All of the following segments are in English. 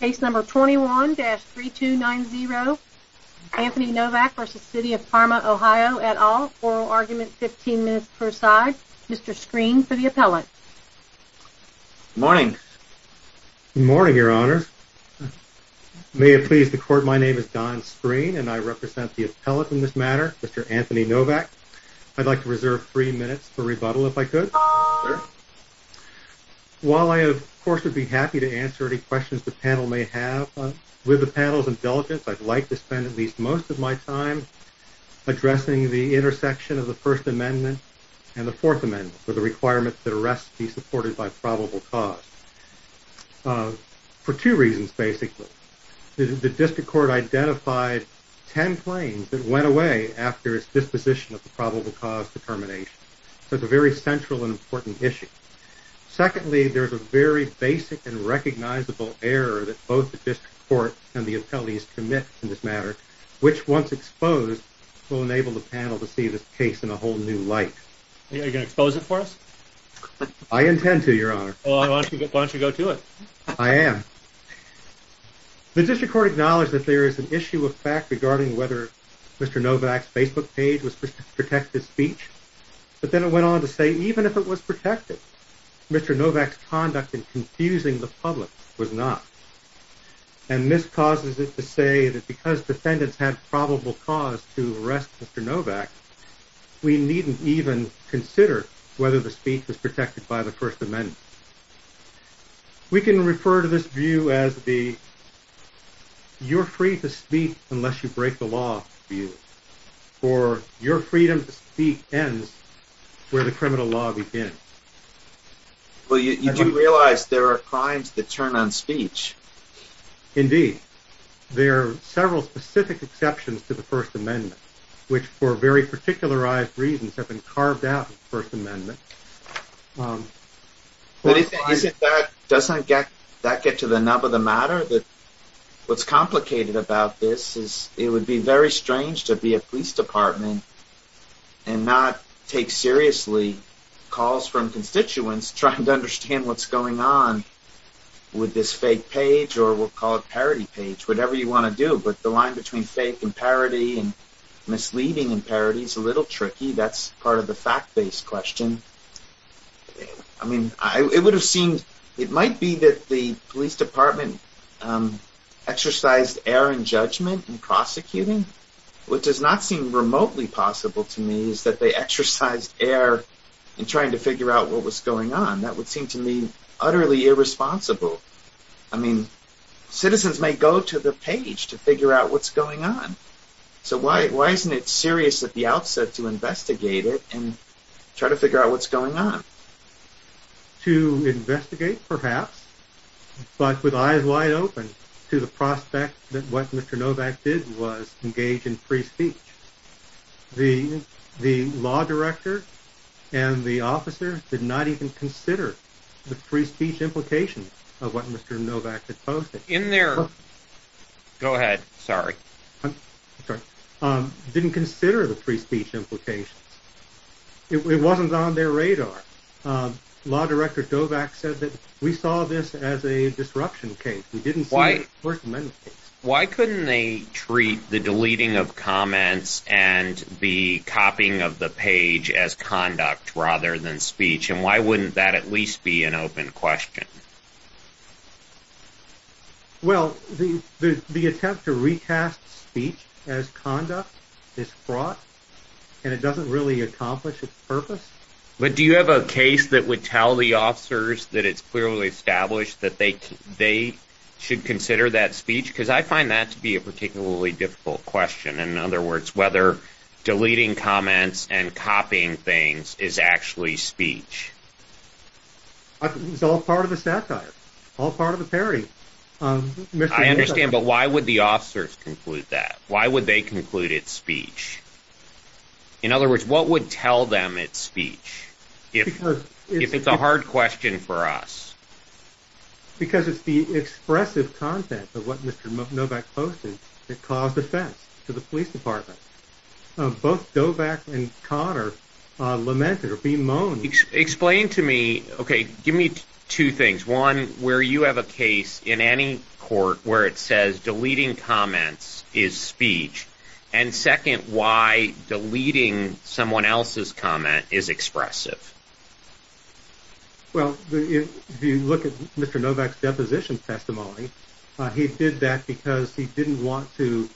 Case No. 21-3290 Anthony Novak v. City of Parma, OH et al. Oral argument 15 minutes per side. Mr. Screen for the appellate. Good morning. Good morning, your honors. May it please the court, my name is Don Screen and I represent the appellate in this matter, Mr. Anthony Novak. I'd like to reserve three minutes for rebuttal if I could. While I of course would be happy to answer any questions the panel may have, with the panel's indulgence I'd like to spend at least most of my time addressing the intersection of the First Amendment and the Fourth Amendment for the requirements that arrests be supported by probable cause. For two reasons basically. The district court identified ten claims that went away after its disposition of the probable cause determination. So it's a very central and important issue. Secondly, there's a very basic and recognizable error that both the district court and the appellate commit in this matter, which once exposed will enable the panel to see this case in a whole new light. Are you going to expose it for us? I intend to, your honor. Why don't you go to it? I am. The district court acknowledged that there is an issue of fact regarding whether Mr. Novak's Facebook page was protected speech, but then it went on to say even if it was protected, Mr. Novak's conduct in confusing the public was not. And miscauses it to say that because defendants had probable cause to arrest Mr. Novak, we needn't even consider whether the speech was protected by the First Amendment. We can refer to this view as the you're free to speak unless you break the law view. Or your freedom to speak ends where the criminal law begins. Well, you do realize there are crimes that turn on speech. Indeed. There are several specific exceptions to the First Amendment, which for very particularized reasons have been carved out of the First Amendment. Doesn't that get to the nub of the matter? What's complicated about this is it would be very strange to be a police department and not take seriously calls from constituents trying to understand what's going on with this fake page or we'll call it parody page, whatever you want to do. But the line between fake and parody and misleading and parody is a little tricky. That's part of the fact-based question. It might be that the police department exercised error in judgment in prosecuting. What does not seem remotely possible to me is that they exercised error in trying to figure out what was going on. That would seem to me utterly irresponsible. Citizens may go to the page to figure out what's going on. So why isn't it serious at the outset to investigate it and try to figure out what's going on? To investigate, perhaps, but with eyes wide open to the prospect that what Mr. Novak did was engage in free speech. The law director and the officer did not even consider the free speech implications of what Mr. Novak had posted. Go ahead, sorry. Didn't consider the free speech implications. It wasn't on their radar. Law director Novak said that we saw this as a disruption case. We didn't see it as a first amendment case. Why couldn't they treat the deleting of comments and the copying of the page as conduct rather than speech? And why wouldn't that at least be an open question? Well, the attempt to recast speech as conduct is fraught and it doesn't really accomplish its purpose. But do you have a case that would tell the officers that it's clearly established that they should consider that speech? Because I find that to be a particularly difficult question. In other words, whether deleting comments and copying things is actually speech. It's all part of the satire. All part of the parody. I understand, but why would the officers conclude that? Why would they conclude it's speech? In other words, what would tell them it's speech? If it's a hard question for us? Because it's the expressive content of what Mr. Novak posted that caused offense to the police department. Both Novak and Connor lamented or be moaned. Explain to me, okay, give me two things. One, where you have a case in any court where it says deleting comments is speech. And second, why deleting someone else's comment is expressive? Well, if you look at Mr. Novak's deposition testimony, he did that because he didn't want to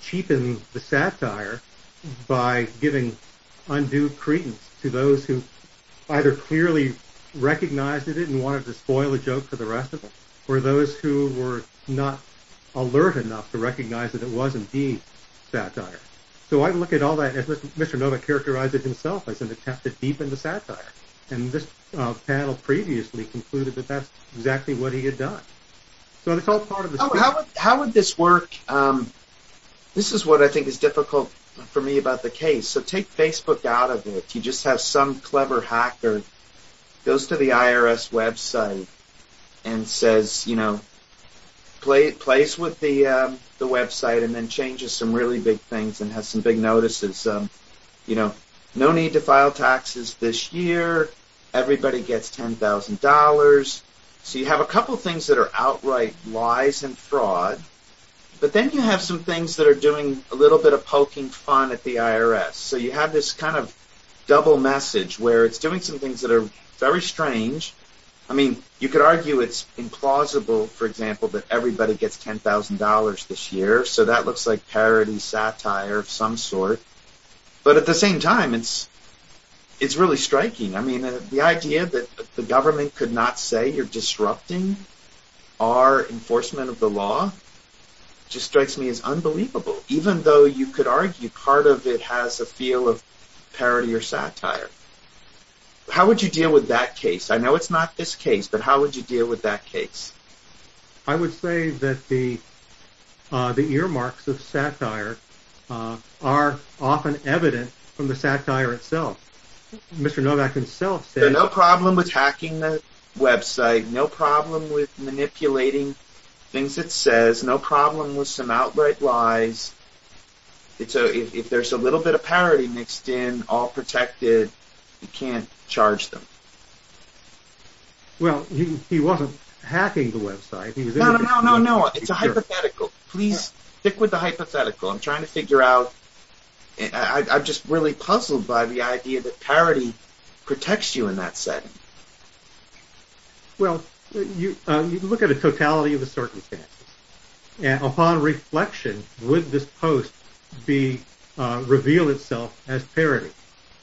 cheapen the satire by giving undue credence to those who either clearly recognized it and wanted to spoil a joke for the rest of them or those who were not alert enough to recognize that it was indeed satire. So I look at all that and Mr. Novak characterized it himself as an attempt to deepen the satire. And this panel previously concluded that that's exactly what he had done. How would this work? This is what I think is difficult for me about the case. So take Facebook out of it. You just have some clever hacker goes to the IRS website and says, you know, plays with the website and then changes some really big things and has some big notices. You know, no need to file taxes this year. Everybody gets $10,000. So you have a couple things that are outright lies and fraud. But then you have some things that are doing a little bit of poking fun at the IRS. So you have this kind of double message where it's doing some things that are very strange. I mean, you could argue it's implausible, for example, that everybody gets $10,000 this year. So that looks like parody, satire of some sort. But at the same time, it's really striking. I mean, the idea that the government could not say you're disrupting our enforcement of the law just strikes me as unbelievable, even though you could argue part of it has a feel of parody or satire. How would you deal with that case? I know it's not this case, but how would you deal with that case? I would say that the earmarks of satire are often evident from the satire itself. Mr. Novak himself said... No problem with hacking the website. No problem with manipulating things it says. No problem with some outright lies. If there's a little bit of parody mixed in, all protected, you can't charge them. Well, he wasn't hacking the website... No, no, no, no. It's a hypothetical. Please stick with the hypothetical. I'm trying to figure out... I'm just really puzzled by the idea that parody protects you in that setting. Well, you look at a totality of the circumstances. Upon reflection, would this post reveal itself as parody,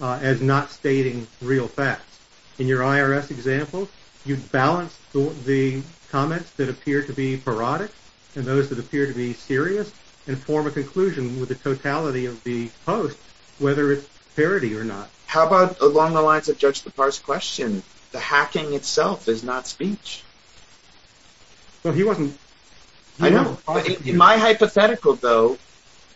as not stating real facts? In your IRS example, you balance the comments that appear to be parodic and those that appear to be serious and form a conclusion with the totality of the post, whether it's parody or not. How about along the lines of Judge Lepar's question? The hacking itself is not speech. Well, he wasn't... In my hypothetical, though,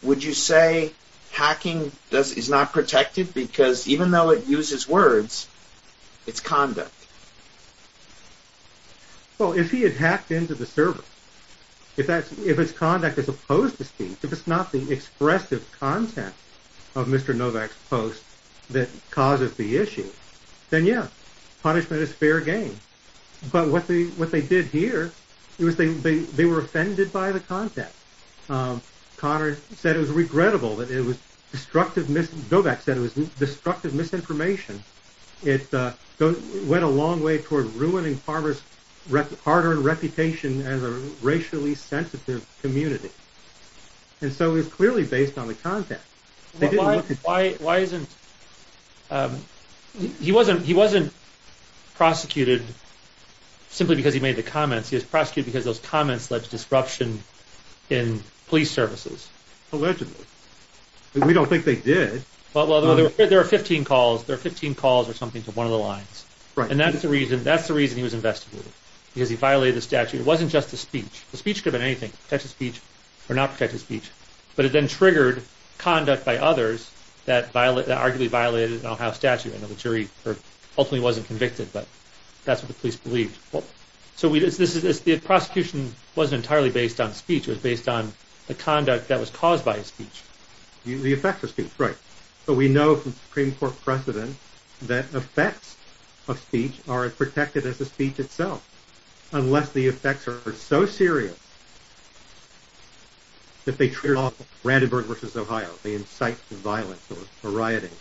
would you say hacking is not protected because even though it uses words, it's conduct? Well, if he had hacked into the server, if it's conduct as opposed to speech, if it's not the expressive content of Mr. Novak's post that causes the issue, then yeah, punishment is fair game. But what they did here, they were offended by the content. Novak said it was destructive misinformation. It went a long way toward ruining farmers' hard-earned reputation as a racially sensitive community. And so it was clearly based on the content. Why isn't... He wasn't prosecuted simply because he made the comments. He was prosecuted because those comments led to disruption in police services. Allegedly. We don't think they did. Well, there were 15 calls or something to one of the lines. And that's the reason he was investigated. Because he violated the statute. It wasn't just the speech. The speech could have been anything. Protected speech or not protected speech. But it then triggered conduct by others that arguably violated an Ohio statute. I know the jury ultimately wasn't convicted, but that's what the police believed. So the prosecution wasn't entirely based on speech. It was based on the conduct that was caused by his speech. The effects of speech, right. But we know from Supreme Court precedent that effects of speech are as protected as the speech itself. Unless the effects are so serious that they trigger Randenburg v. Ohio. They incite violence or rioting.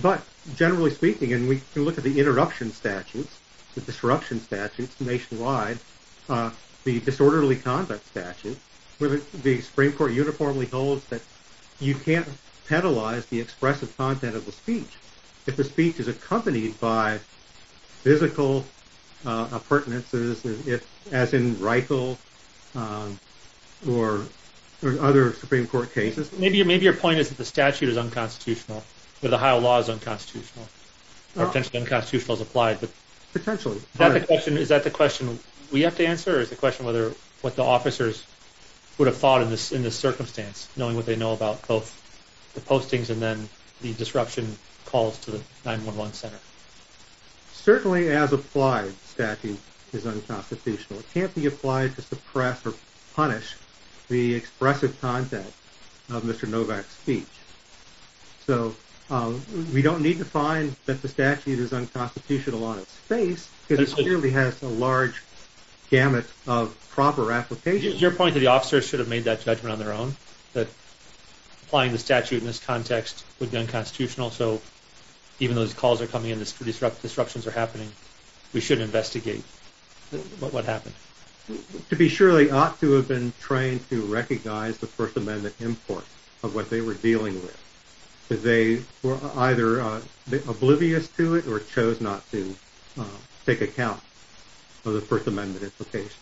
But generally speaking, and we can look at the interruption statutes, the disruption statutes nationwide, the disorderly conduct statute, where the Supreme Court uniformly holds that you can't penalize the expressive content of the speech. If the speech is accompanied by physical appurtenances as in Reichel or other Supreme Court cases. Maybe your point is that the statute is unconstitutional. Or the Ohio law is unconstitutional. Or potentially unconstitutional is applied. Potentially. Is that the question we have to answer? Or is the question what the officers would have thought in this circumstance? Knowing what they know about both the postings and then the disruption calls to the 911 center. Certainly as applied statute is unconstitutional. It can't be applied to suppress or punish the expressive content of Mr. Novak's speech. So we don't need to find that the statute is unconstitutional on its face because it clearly has a large gamut of proper application. Your point is that the officers should have made that judgment on their own. That applying the statute in this context would be unconstitutional. So even though those calls are coming in and disruptions are happening, we should investigate what happened. To be sure, they ought to have been trained to recognize the First Amendment import of what they were dealing with. Because they were either oblivious to it or chose not to take account of the First Amendment implications.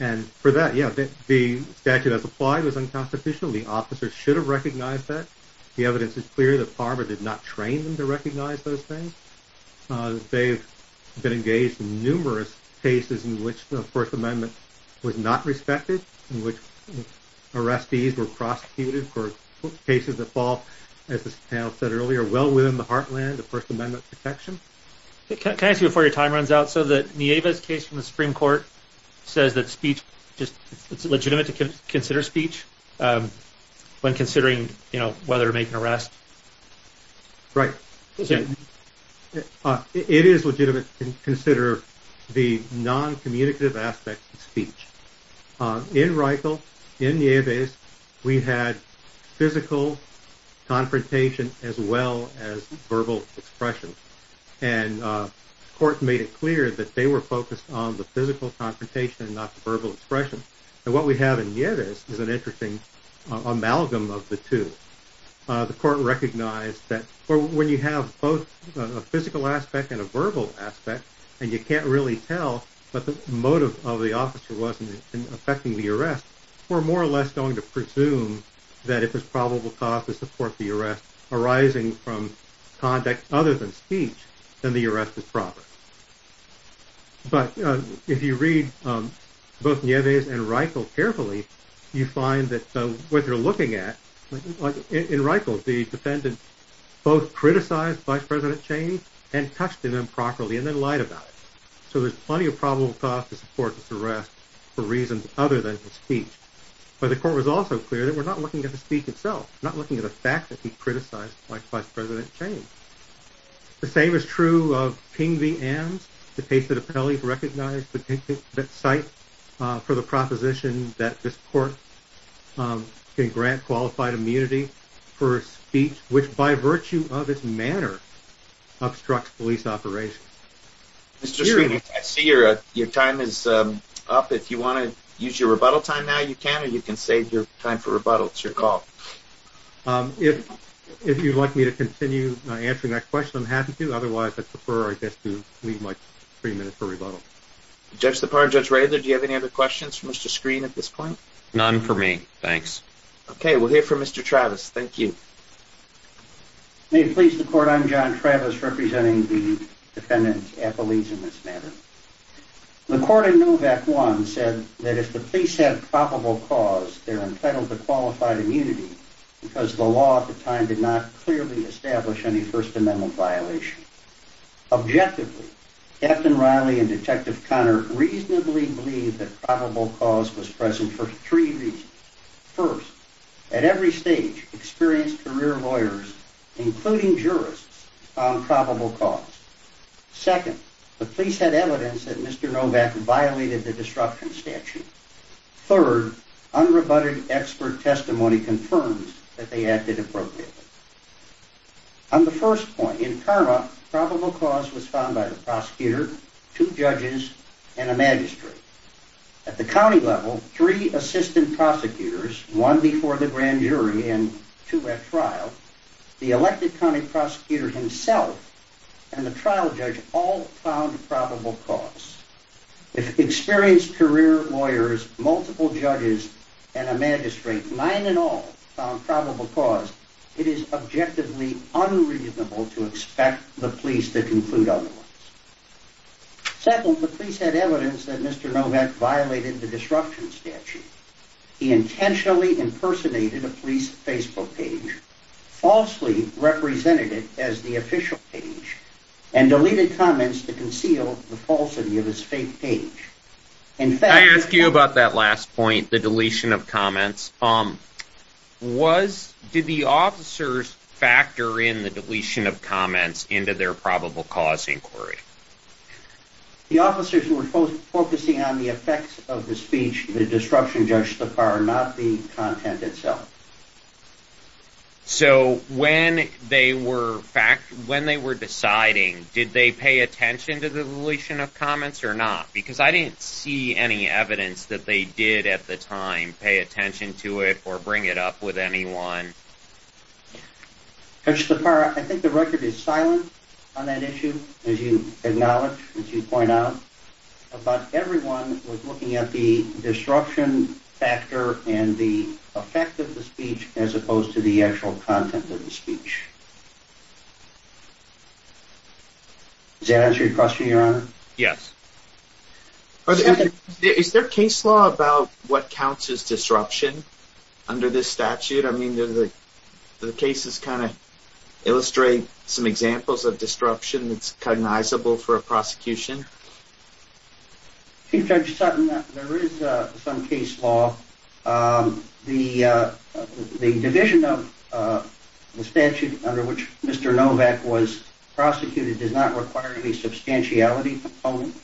And for that, yeah, the statute as applied was unconstitutional. The officers should have recognized that. The evidence is clear that Farber did not train them to recognize those things. They've been engaged in numerous cases in which the First Amendment was not respected. In which arrestees were prosecuted for cases that fall, as this panel said earlier, well within the heartland of First Amendment protection. Can I ask you before your time runs out? So the Nieves case from the Supreme Court says that it's legitimate to consider speech when considering whether to make an arrest. Right. It is legitimate to consider the non-communicative aspects of speech. In Reichel, in Nieves, we had physical confrontation as well as verbal expression. And the court made it clear that they were focused on the physical confrontation and not the verbal expression. And what we have in Nieves is an interesting amalgam of the two. The court recognized that when you have both a physical aspect and a verbal aspect, and you can't really tell what the motive of the officer was in affecting the arrest, we're more or less going to presume that it was probable cause to support the arrest arising from conduct other than speech. Then the arrest is proper. But if you read both Nieves and Reichel carefully, you find that what you're looking at, in Reichel, the defendant both criticized Vice President Cheney and touched him improperly and then lied about it. So there's plenty of probable cause to support this arrest for reasons other than the speech. But the court was also clear that we're not looking at the speech itself. We're not looking at the fact that he criticized Vice President Cheney. The same is true of King v. Ames. The case of the Pelley recognized the site for the proposition that this court can grant qualified immunity for speech, which by virtue of its manner obstructs police operation. Mr. Sweeney, I see your time is up. If you want to use your rebuttal time now, you can, or you can save your time for rebuttal. It's your call. If you'd like me to continue answering that question, I'm happy to. Otherwise, I prefer to leave my three minutes for rebuttal. Judge Depard, Judge Rather, do you have any other questions for Mr. Sweeney at this point? None for me, thanks. Okay, we'll hear from Mr. Travis. Thank you. May it please the court, I'm John Travis, representing the defendant's appellees in this matter. The court in Novak I said that if the police had probable cause, they're entitled to qualified immunity because the law at the time did not clearly establish any First Amendment violation. Objectively, Captain Riley and Detective Conner reasonably believed that probable cause was present for three reasons. First, at every stage, experienced career lawyers, including jurists, found probable cause. Second, the police had evidence that Mr. Novak violated the disruption statute. Third, unrebutted expert testimony confirms that they acted appropriately. On the first point, in CARMA, probable cause was found by the prosecutor, two judges, and a magistrate. At the county level, three assistant prosecutors, one before the grand jury and two at trial, the elected county prosecutor himself and the trial judge all found probable cause. If experienced career lawyers, multiple judges, and a magistrate, nine in all, found probable cause, it is objectively unreasonable to expect the police to conclude otherwise. Second, the police had evidence that Mr. Novak violated the disruption statute. He intentionally impersonated a police Facebook page, falsely represented it as the official page, and deleted comments to conceal the falsity of his fake page. I asked you about that last point, the deletion of comments. Did the officers factor in the deletion of comments into their probable cause inquiry? The officers were focusing on the effects of the speech, the disruption, Judge Sapara, not the content itself. So when they were deciding, did they pay attention to the deletion of comments or not? Because I didn't see any evidence that they did at the time pay attention to it or bring it up with anyone. Judge Sapara, I think the record is silent on that issue, as you acknowledge, as you point out. About everyone was looking at the disruption factor and the effect of the speech as opposed to the actual content of the speech. Does that answer your question, Your Honor? Yes. Is there case law about what counts as disruption under this statute? Do the cases kind of illustrate some examples of disruption that's cognizable for a prosecution? Chief Judge Sutton, there is some case law. The division of the statute under which Mr. Novak was prosecuted does not require any substantiality component.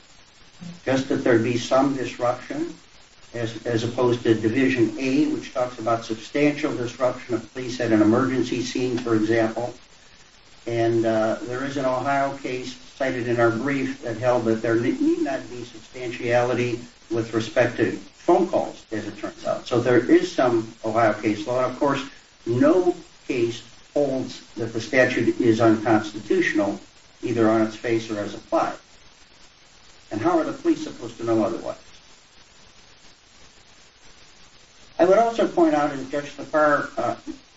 Just that there be some disruption as opposed to Division A, which talks about substantial disruption of police at an emergency scene, for example. And there is an Ohio case cited in our brief that held that there need not be substantiality with respect to phone calls, as it turns out. So there is some Ohio case law. Of course, no case holds that the statute is unconstitutional, either on its face or as applied. And how are the police supposed to know otherwise? I would also point out, as Judge Lafarre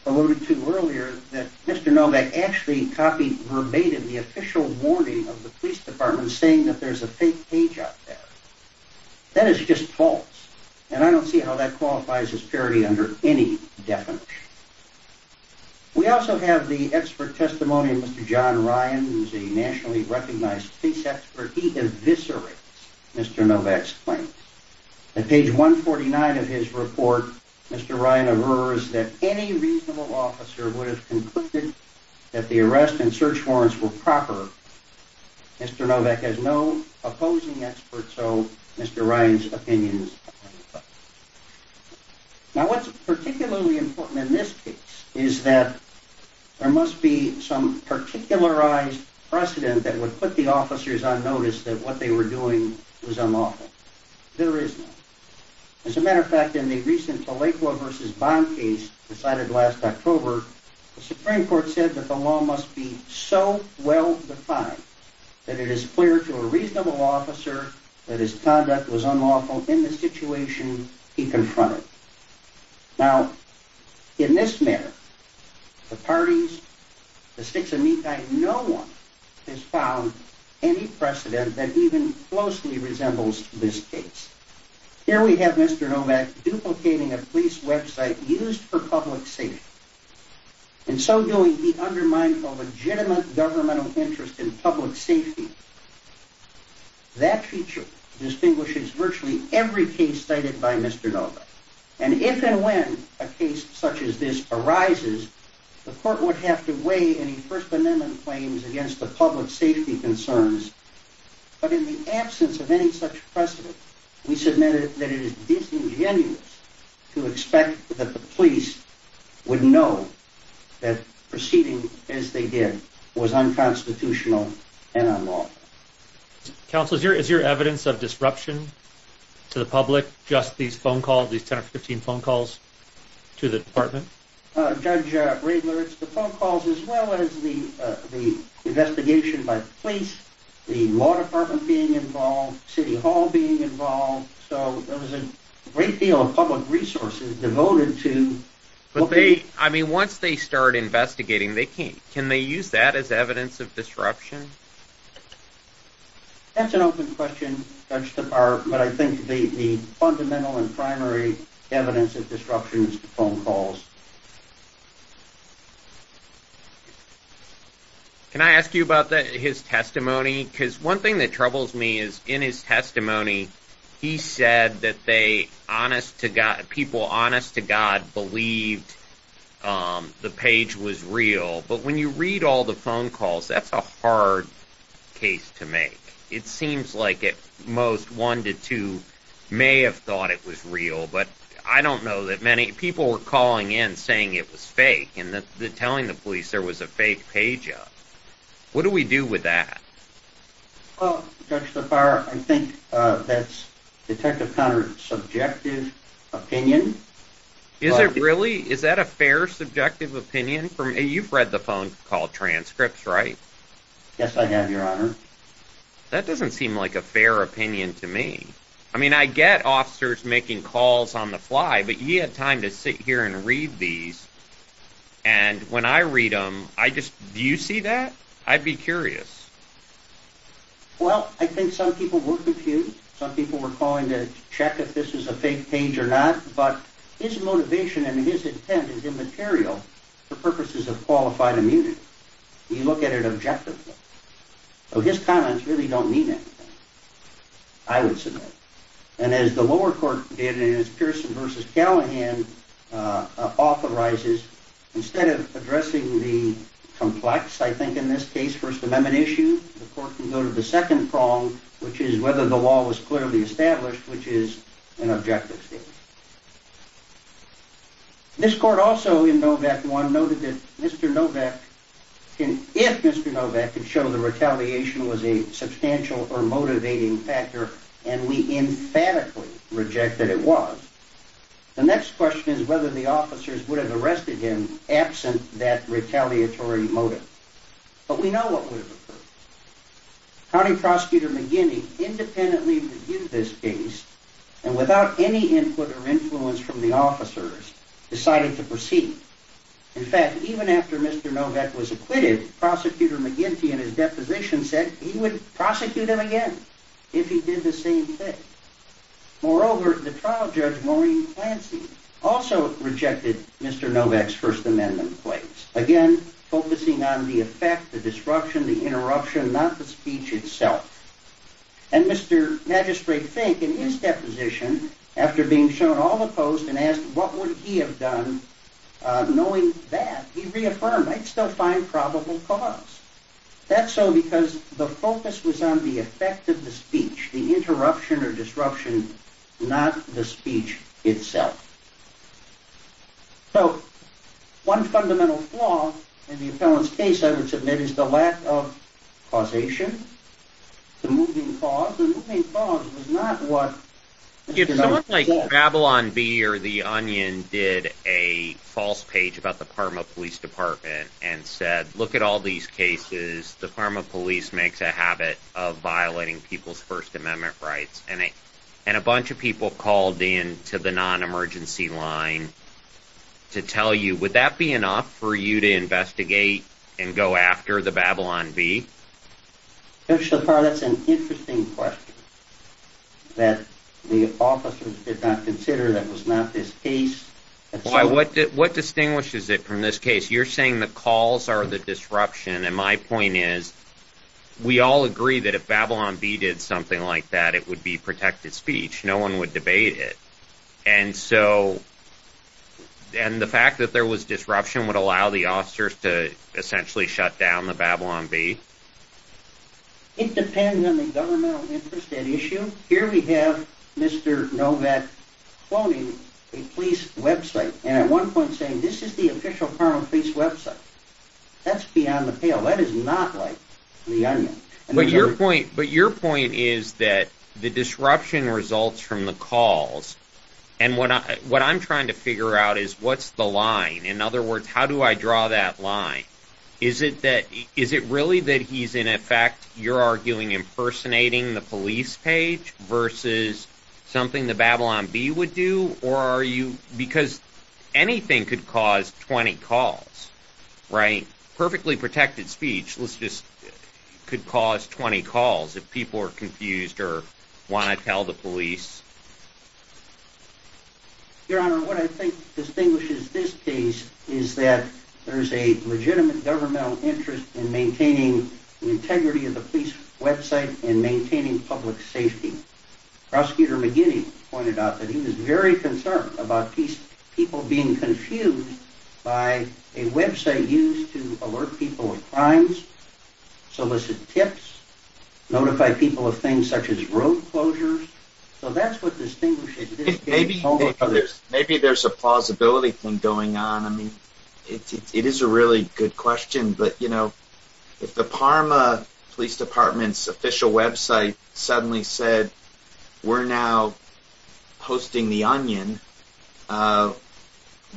alluded to earlier, that Mr. Novak actually copied verbatim the official warning of the police department saying that there's a fake page out there. That is just false. And I don't see how that qualifies as parity under any definition. We also have the expert testimony of Mr. John Ryan, who is a nationally recognized police expert. He eviscerates Mr. Novak's claims. At page 149 of his report, Mr. Ryan averts that any reasonable officer would have concluded that the arrest and search warrants were proper. Mr. Novak has no opposing expert, so Mr. Ryan's opinions are unbiased. Now what's particularly important in this case is that there must be some particularized precedent that would put the officers on notice that what they were doing was unlawful. There is not. As a matter of fact, in the recent Tlaiqua v. Bond case decided last October, the Supreme Court said that the law must be so well defined that it is clear to a reasonable officer that his conduct was unlawful in the situation he confronted. Now, in this matter, the parties, the six of me, no one has found any precedent that even closely resembles this case. Here we have Mr. Novak duplicating a police website used for public safety. In so doing, he undermines a legitimate governmental interest in public safety. That feature distinguishes virtually every case cited by Mr. Novak. And if and when a case such as this arises, the court would have to weigh any First Amendment claims against the public safety concerns. But in the absence of any such precedent, we submitted that it is disingenuous to expect that the police would know that proceeding as they did was unconstitutional and unlawful. Counsel, is your evidence of disruption to the public just these phone calls, these 10 or 15 phone calls to the department? Judge Riegler, it's the phone calls as well as the investigation by the police, the law department being involved, City Hall being involved, so there was a great deal of public resources devoted to... But once they start investigating, can they use that as evidence of disruption? That's an open question, Judge Stepart, but I think the fundamental and primary evidence of disruption is the phone calls. Can I ask you about his testimony? Because one thing that troubles me is in his testimony, he said that people honest to God believed the page was real. But when you read all the phone calls, that's a hard case to make. It seems like at most one to two may have thought it was real, but I don't know that many... People were calling in saying it was fake and telling the police there was a fake page up. What do we do with that? Well, Judge Stepart, I think that's Detective Conrad's subjective opinion. Is it really? Is that a fair subjective opinion? You've read the phone call transcripts, right? Yes, I have, Your Honor. That doesn't seem like a fair opinion to me. I mean, I get officers making calls on the fly, but you had time to sit here and read these, and when I read them, do you see that? I'd be curious. Well, I think some people were confused. Some people were calling to check if this was a fake page or not, but his motivation and his intent is immaterial for purposes of qualified immunity. You look at it objectively. So his comments really don't mean anything, I would submit. And as the lower court did in its Pearson v. Callahan authorizes, instead of addressing the complex, I think in this case, First Amendment issue, the court can go to the second prong, which is whether the law was clearly established, which is an objective statement. This court also in Novak I noted that if Mr. Novak could show that retaliation was a substantial or motivating factor, and we emphatically reject that it was, the next question is whether the officers would have arrested him absent that retaliatory motive. But we know what would have occurred. County Prosecutor McGinty independently reviewed this case, and without any input or influence from the officers, decided to proceed. In fact, even after Mr. Novak was acquitted, Prosecutor McGinty in his deposition said he would prosecute him again if he did the same thing. Moreover, the trial judge Maureen Clancy also rejected Mr. Novak's First Amendment claims, again focusing on the effect, the disruption, the interruption, not the speech itself. And Mr. Magistrate Fink in his deposition, after being shown all the posts and asked what would he have done knowing that, he reaffirmed, I'd still find probable cause. That's so because the focus was on the effect of the speech, the interruption or disruption, not the speech itself. So, one fundamental flaw in the appellant's case, I would submit, is the lack of causation, the moving cause. The moving cause is not what... ...to tell you. Would that be enough for you to investigate and go after the Babylon Bee? Mr. Shapar, that's an interesting question that the officers did not consider that was not his case. What distinguishes it from this case? You're saying the calls are the disruption, and my point is, we all agree that if Babylon Bee did something like that, it would be protected speech. No one would debate it. And so, and the fact that there was disruption would allow the officers to essentially shut down the Babylon Bee? It depends on the governmental interest at issue. Here we have Mr. Novak quoting a police website, and at one point saying this is the official Carmel Police website. That's beyond the pale. That is not like the onion. But your point is that the disruption results from the calls, and what I'm trying to figure out is what's the line? In other words, how do I draw that line? Is it really that he's in effect, you're arguing, impersonating the police page versus something the Babylon Bee would do? Or are you, because anything could cause 20 calls, right? Perfectly protected speech could cause 20 calls if people are confused or want to tell the police. Your Honor, what I think distinguishes this case is that there's a legitimate governmental interest in maintaining the integrity of the police website and maintaining public safety. Prosecutor McGinney pointed out that he was very concerned about people being confused by a website used to alert people of crimes, solicit tips, notify people of things such as road closures. So that's what distinguishes this case. Maybe there's a plausibility thing going on. I mean, it is a really good question, but you know, if the Parma Police Department's official website suddenly said we're now hosting the onion,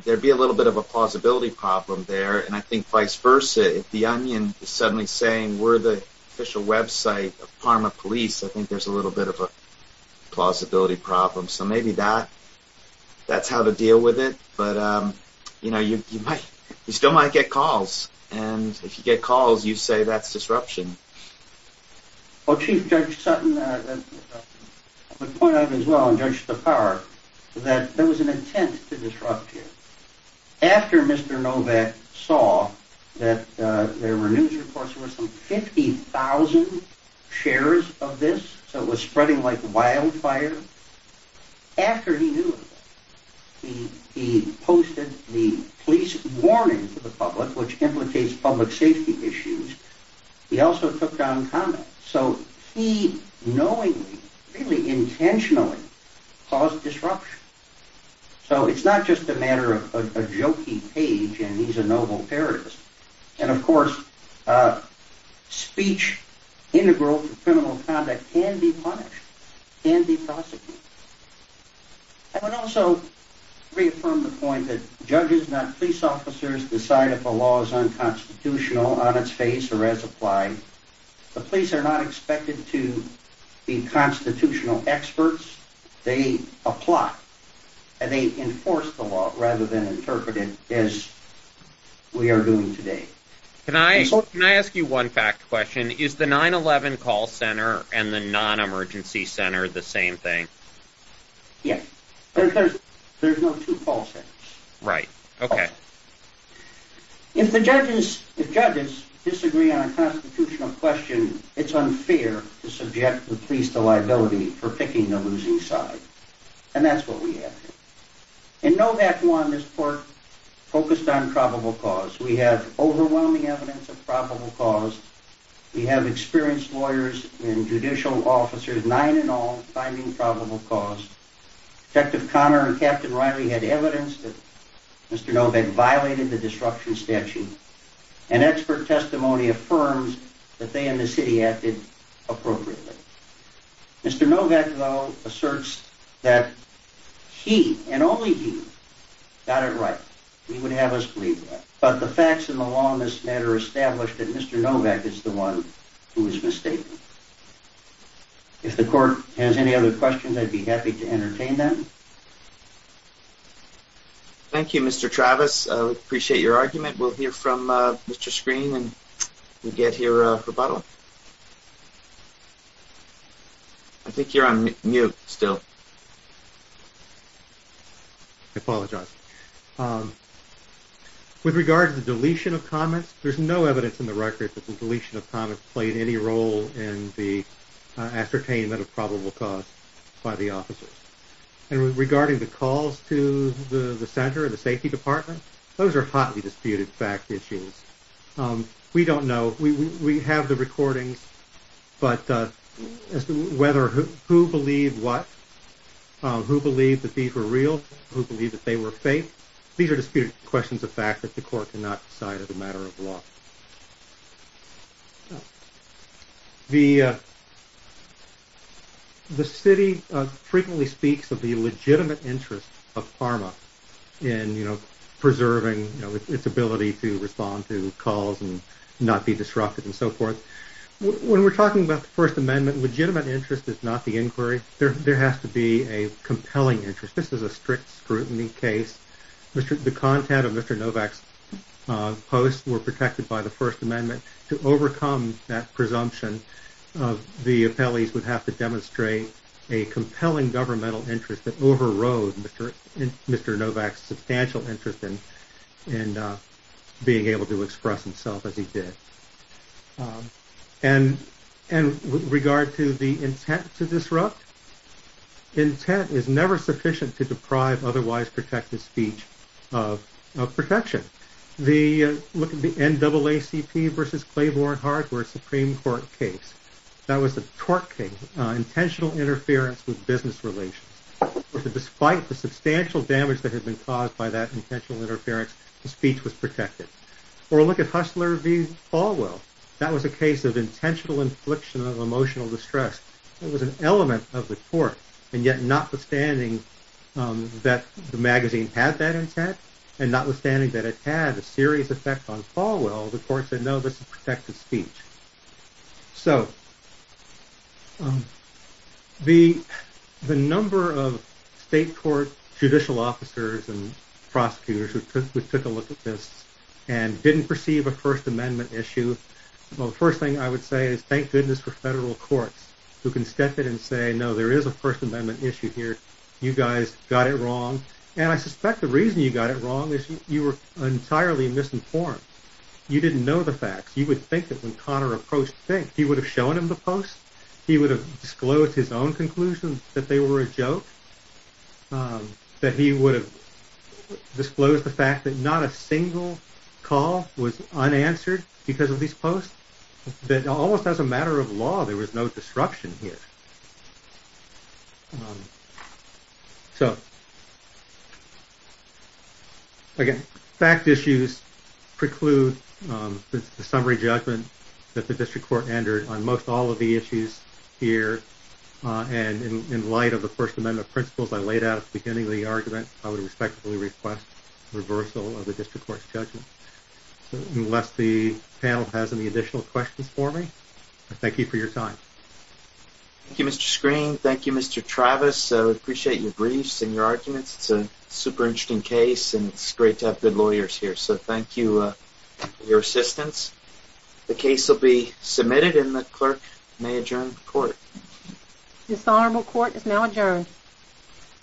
there'd be a little bit of a plausibility problem there. And I think vice versa, if the onion is suddenly saying we're the official website of Parma Police, I think there's a little bit of a plausibility problem. So maybe that's how to deal with it, but you know, you still might get calls. And if you get calls, you say that's disruption. Well, Chief Judge Sutton, I would point out as well, and Judge Safar, that there was an intent to disrupt here. After Mr. Novak saw that there were news reports that there were some 50,000 shares of this, so it was spreading like wildfire, after he knew of it, he posted the police warning to the public, which implicates public safety issues. He also took down conduct, so he knowingly, really intentionally caused disruption. So it's not just a matter of a jokey page, and he's a noble parodist. And of course, speech integral to criminal conduct can be punished, can be prosecuted. I would also reaffirm the point that judges, not police officers, decide if a law is unconstitutional on its face or as applied. The police are not expected to be constitutional experts. They apply, and they enforce the law rather than interpret it as we are doing today. Can I ask you one fact question? Is the 9-11 call center and the non-emergency center the same thing? Yes. There's no two call centers. Right. Okay. If judges disagree on a constitutional question, it's unfair to subject the police to liability for picking the losing side. And that's what we have here. In Novak 1, this court focused on probable cause. We have overwhelming evidence of probable cause. We have experienced lawyers and judicial officers, nine in all, finding probable cause. Detective Connor and Captain Riley had evidence that Mr. Novak violated the disruption statute, and expert testimony affirms that they and the city acted appropriately. Mr. Novak, though, asserts that he, and only he, got it right. He would have us believe that. But the facts in the law in this matter establish that Mr. Novak is the one who is mistaken. If the court has any other questions, I'd be happy to entertain them. Thank you, Mr. Travis. I appreciate your argument. We'll hear from Mr. Screen when we get here for rebuttal. I think you're on mute still. I apologize. With regard to the deletion of comments, there's no evidence in the record that the deletion of comments played any role in the ascertainment of probable cause by the officers. And regarding the calls to the center and the safety department, those are hotly disputed fact issues. We don't know. We have the recordings. But as to who believed what, who believed that these were real, who believed that they were fake, these are disputed questions of fact that the court cannot decide as a matter of law. The city frequently speaks of the legitimate interest of PhRMA in preserving its ability to respond to calls and not be disrupted and so forth. When we're talking about the First Amendment, legitimate interest is not the inquiry. There has to be a compelling interest. This is a strict scrutiny case. The content of Mr. Novak's post were protected by the First Amendment. To overcome that presumption, the appellees would have to demonstrate a compelling governmental interest that overrode Mr. Novak's substantial interest in being able to express himself as he did. And with regard to the intent to disrupt, intent is never sufficient to deprive otherwise protected speech of protection. The NAACP versus Claiborne Hart were a Supreme Court case. That was a tort case, intentional interference with business relations. Despite the substantial damage that had been caused by that intentional interference, the speech was protected. Or look at Hustler v. Falwell. That was a case of intentional infliction of emotional distress. It was an element of the court. And yet notwithstanding that the magazine had that intent and notwithstanding that it had a serious effect on Falwell, the court said no, this is protected speech. So the number of state court judicial officers and prosecutors who took a look at this and didn't perceive a First Amendment issue, well, the first thing I would say is thank goodness for federal courts who can step in and say, no, there is a First Amendment issue here. You guys got it wrong. And I suspect the reason you got it wrong is you were entirely misinformed. You didn't know the facts. You would think that when Connor approached Fink, he would have shown him the post. He would have disclosed his own conclusion that they were a joke. That he would have disclosed the fact that not a single call was unanswered because of these posts. That almost as a matter of law, there was no disruption here. So again, fact issues preclude the summary judgment that the district court entered on most all of the issues here. And in light of the First Amendment principles I laid out at the beginning of the argument, I would respectfully request reversal of the district court's judgment. Unless the panel has any additional questions for me, I thank you for your time. Thank you, Mr. Screen. Thank you, Mr. Travis. We appreciate your briefs and your arguments. It's a super interesting case and it's great to have good lawyers here. So thank you for your assistance. The case will be submitted and the clerk may adjourn the court. Dishonorable Court is now adjourned.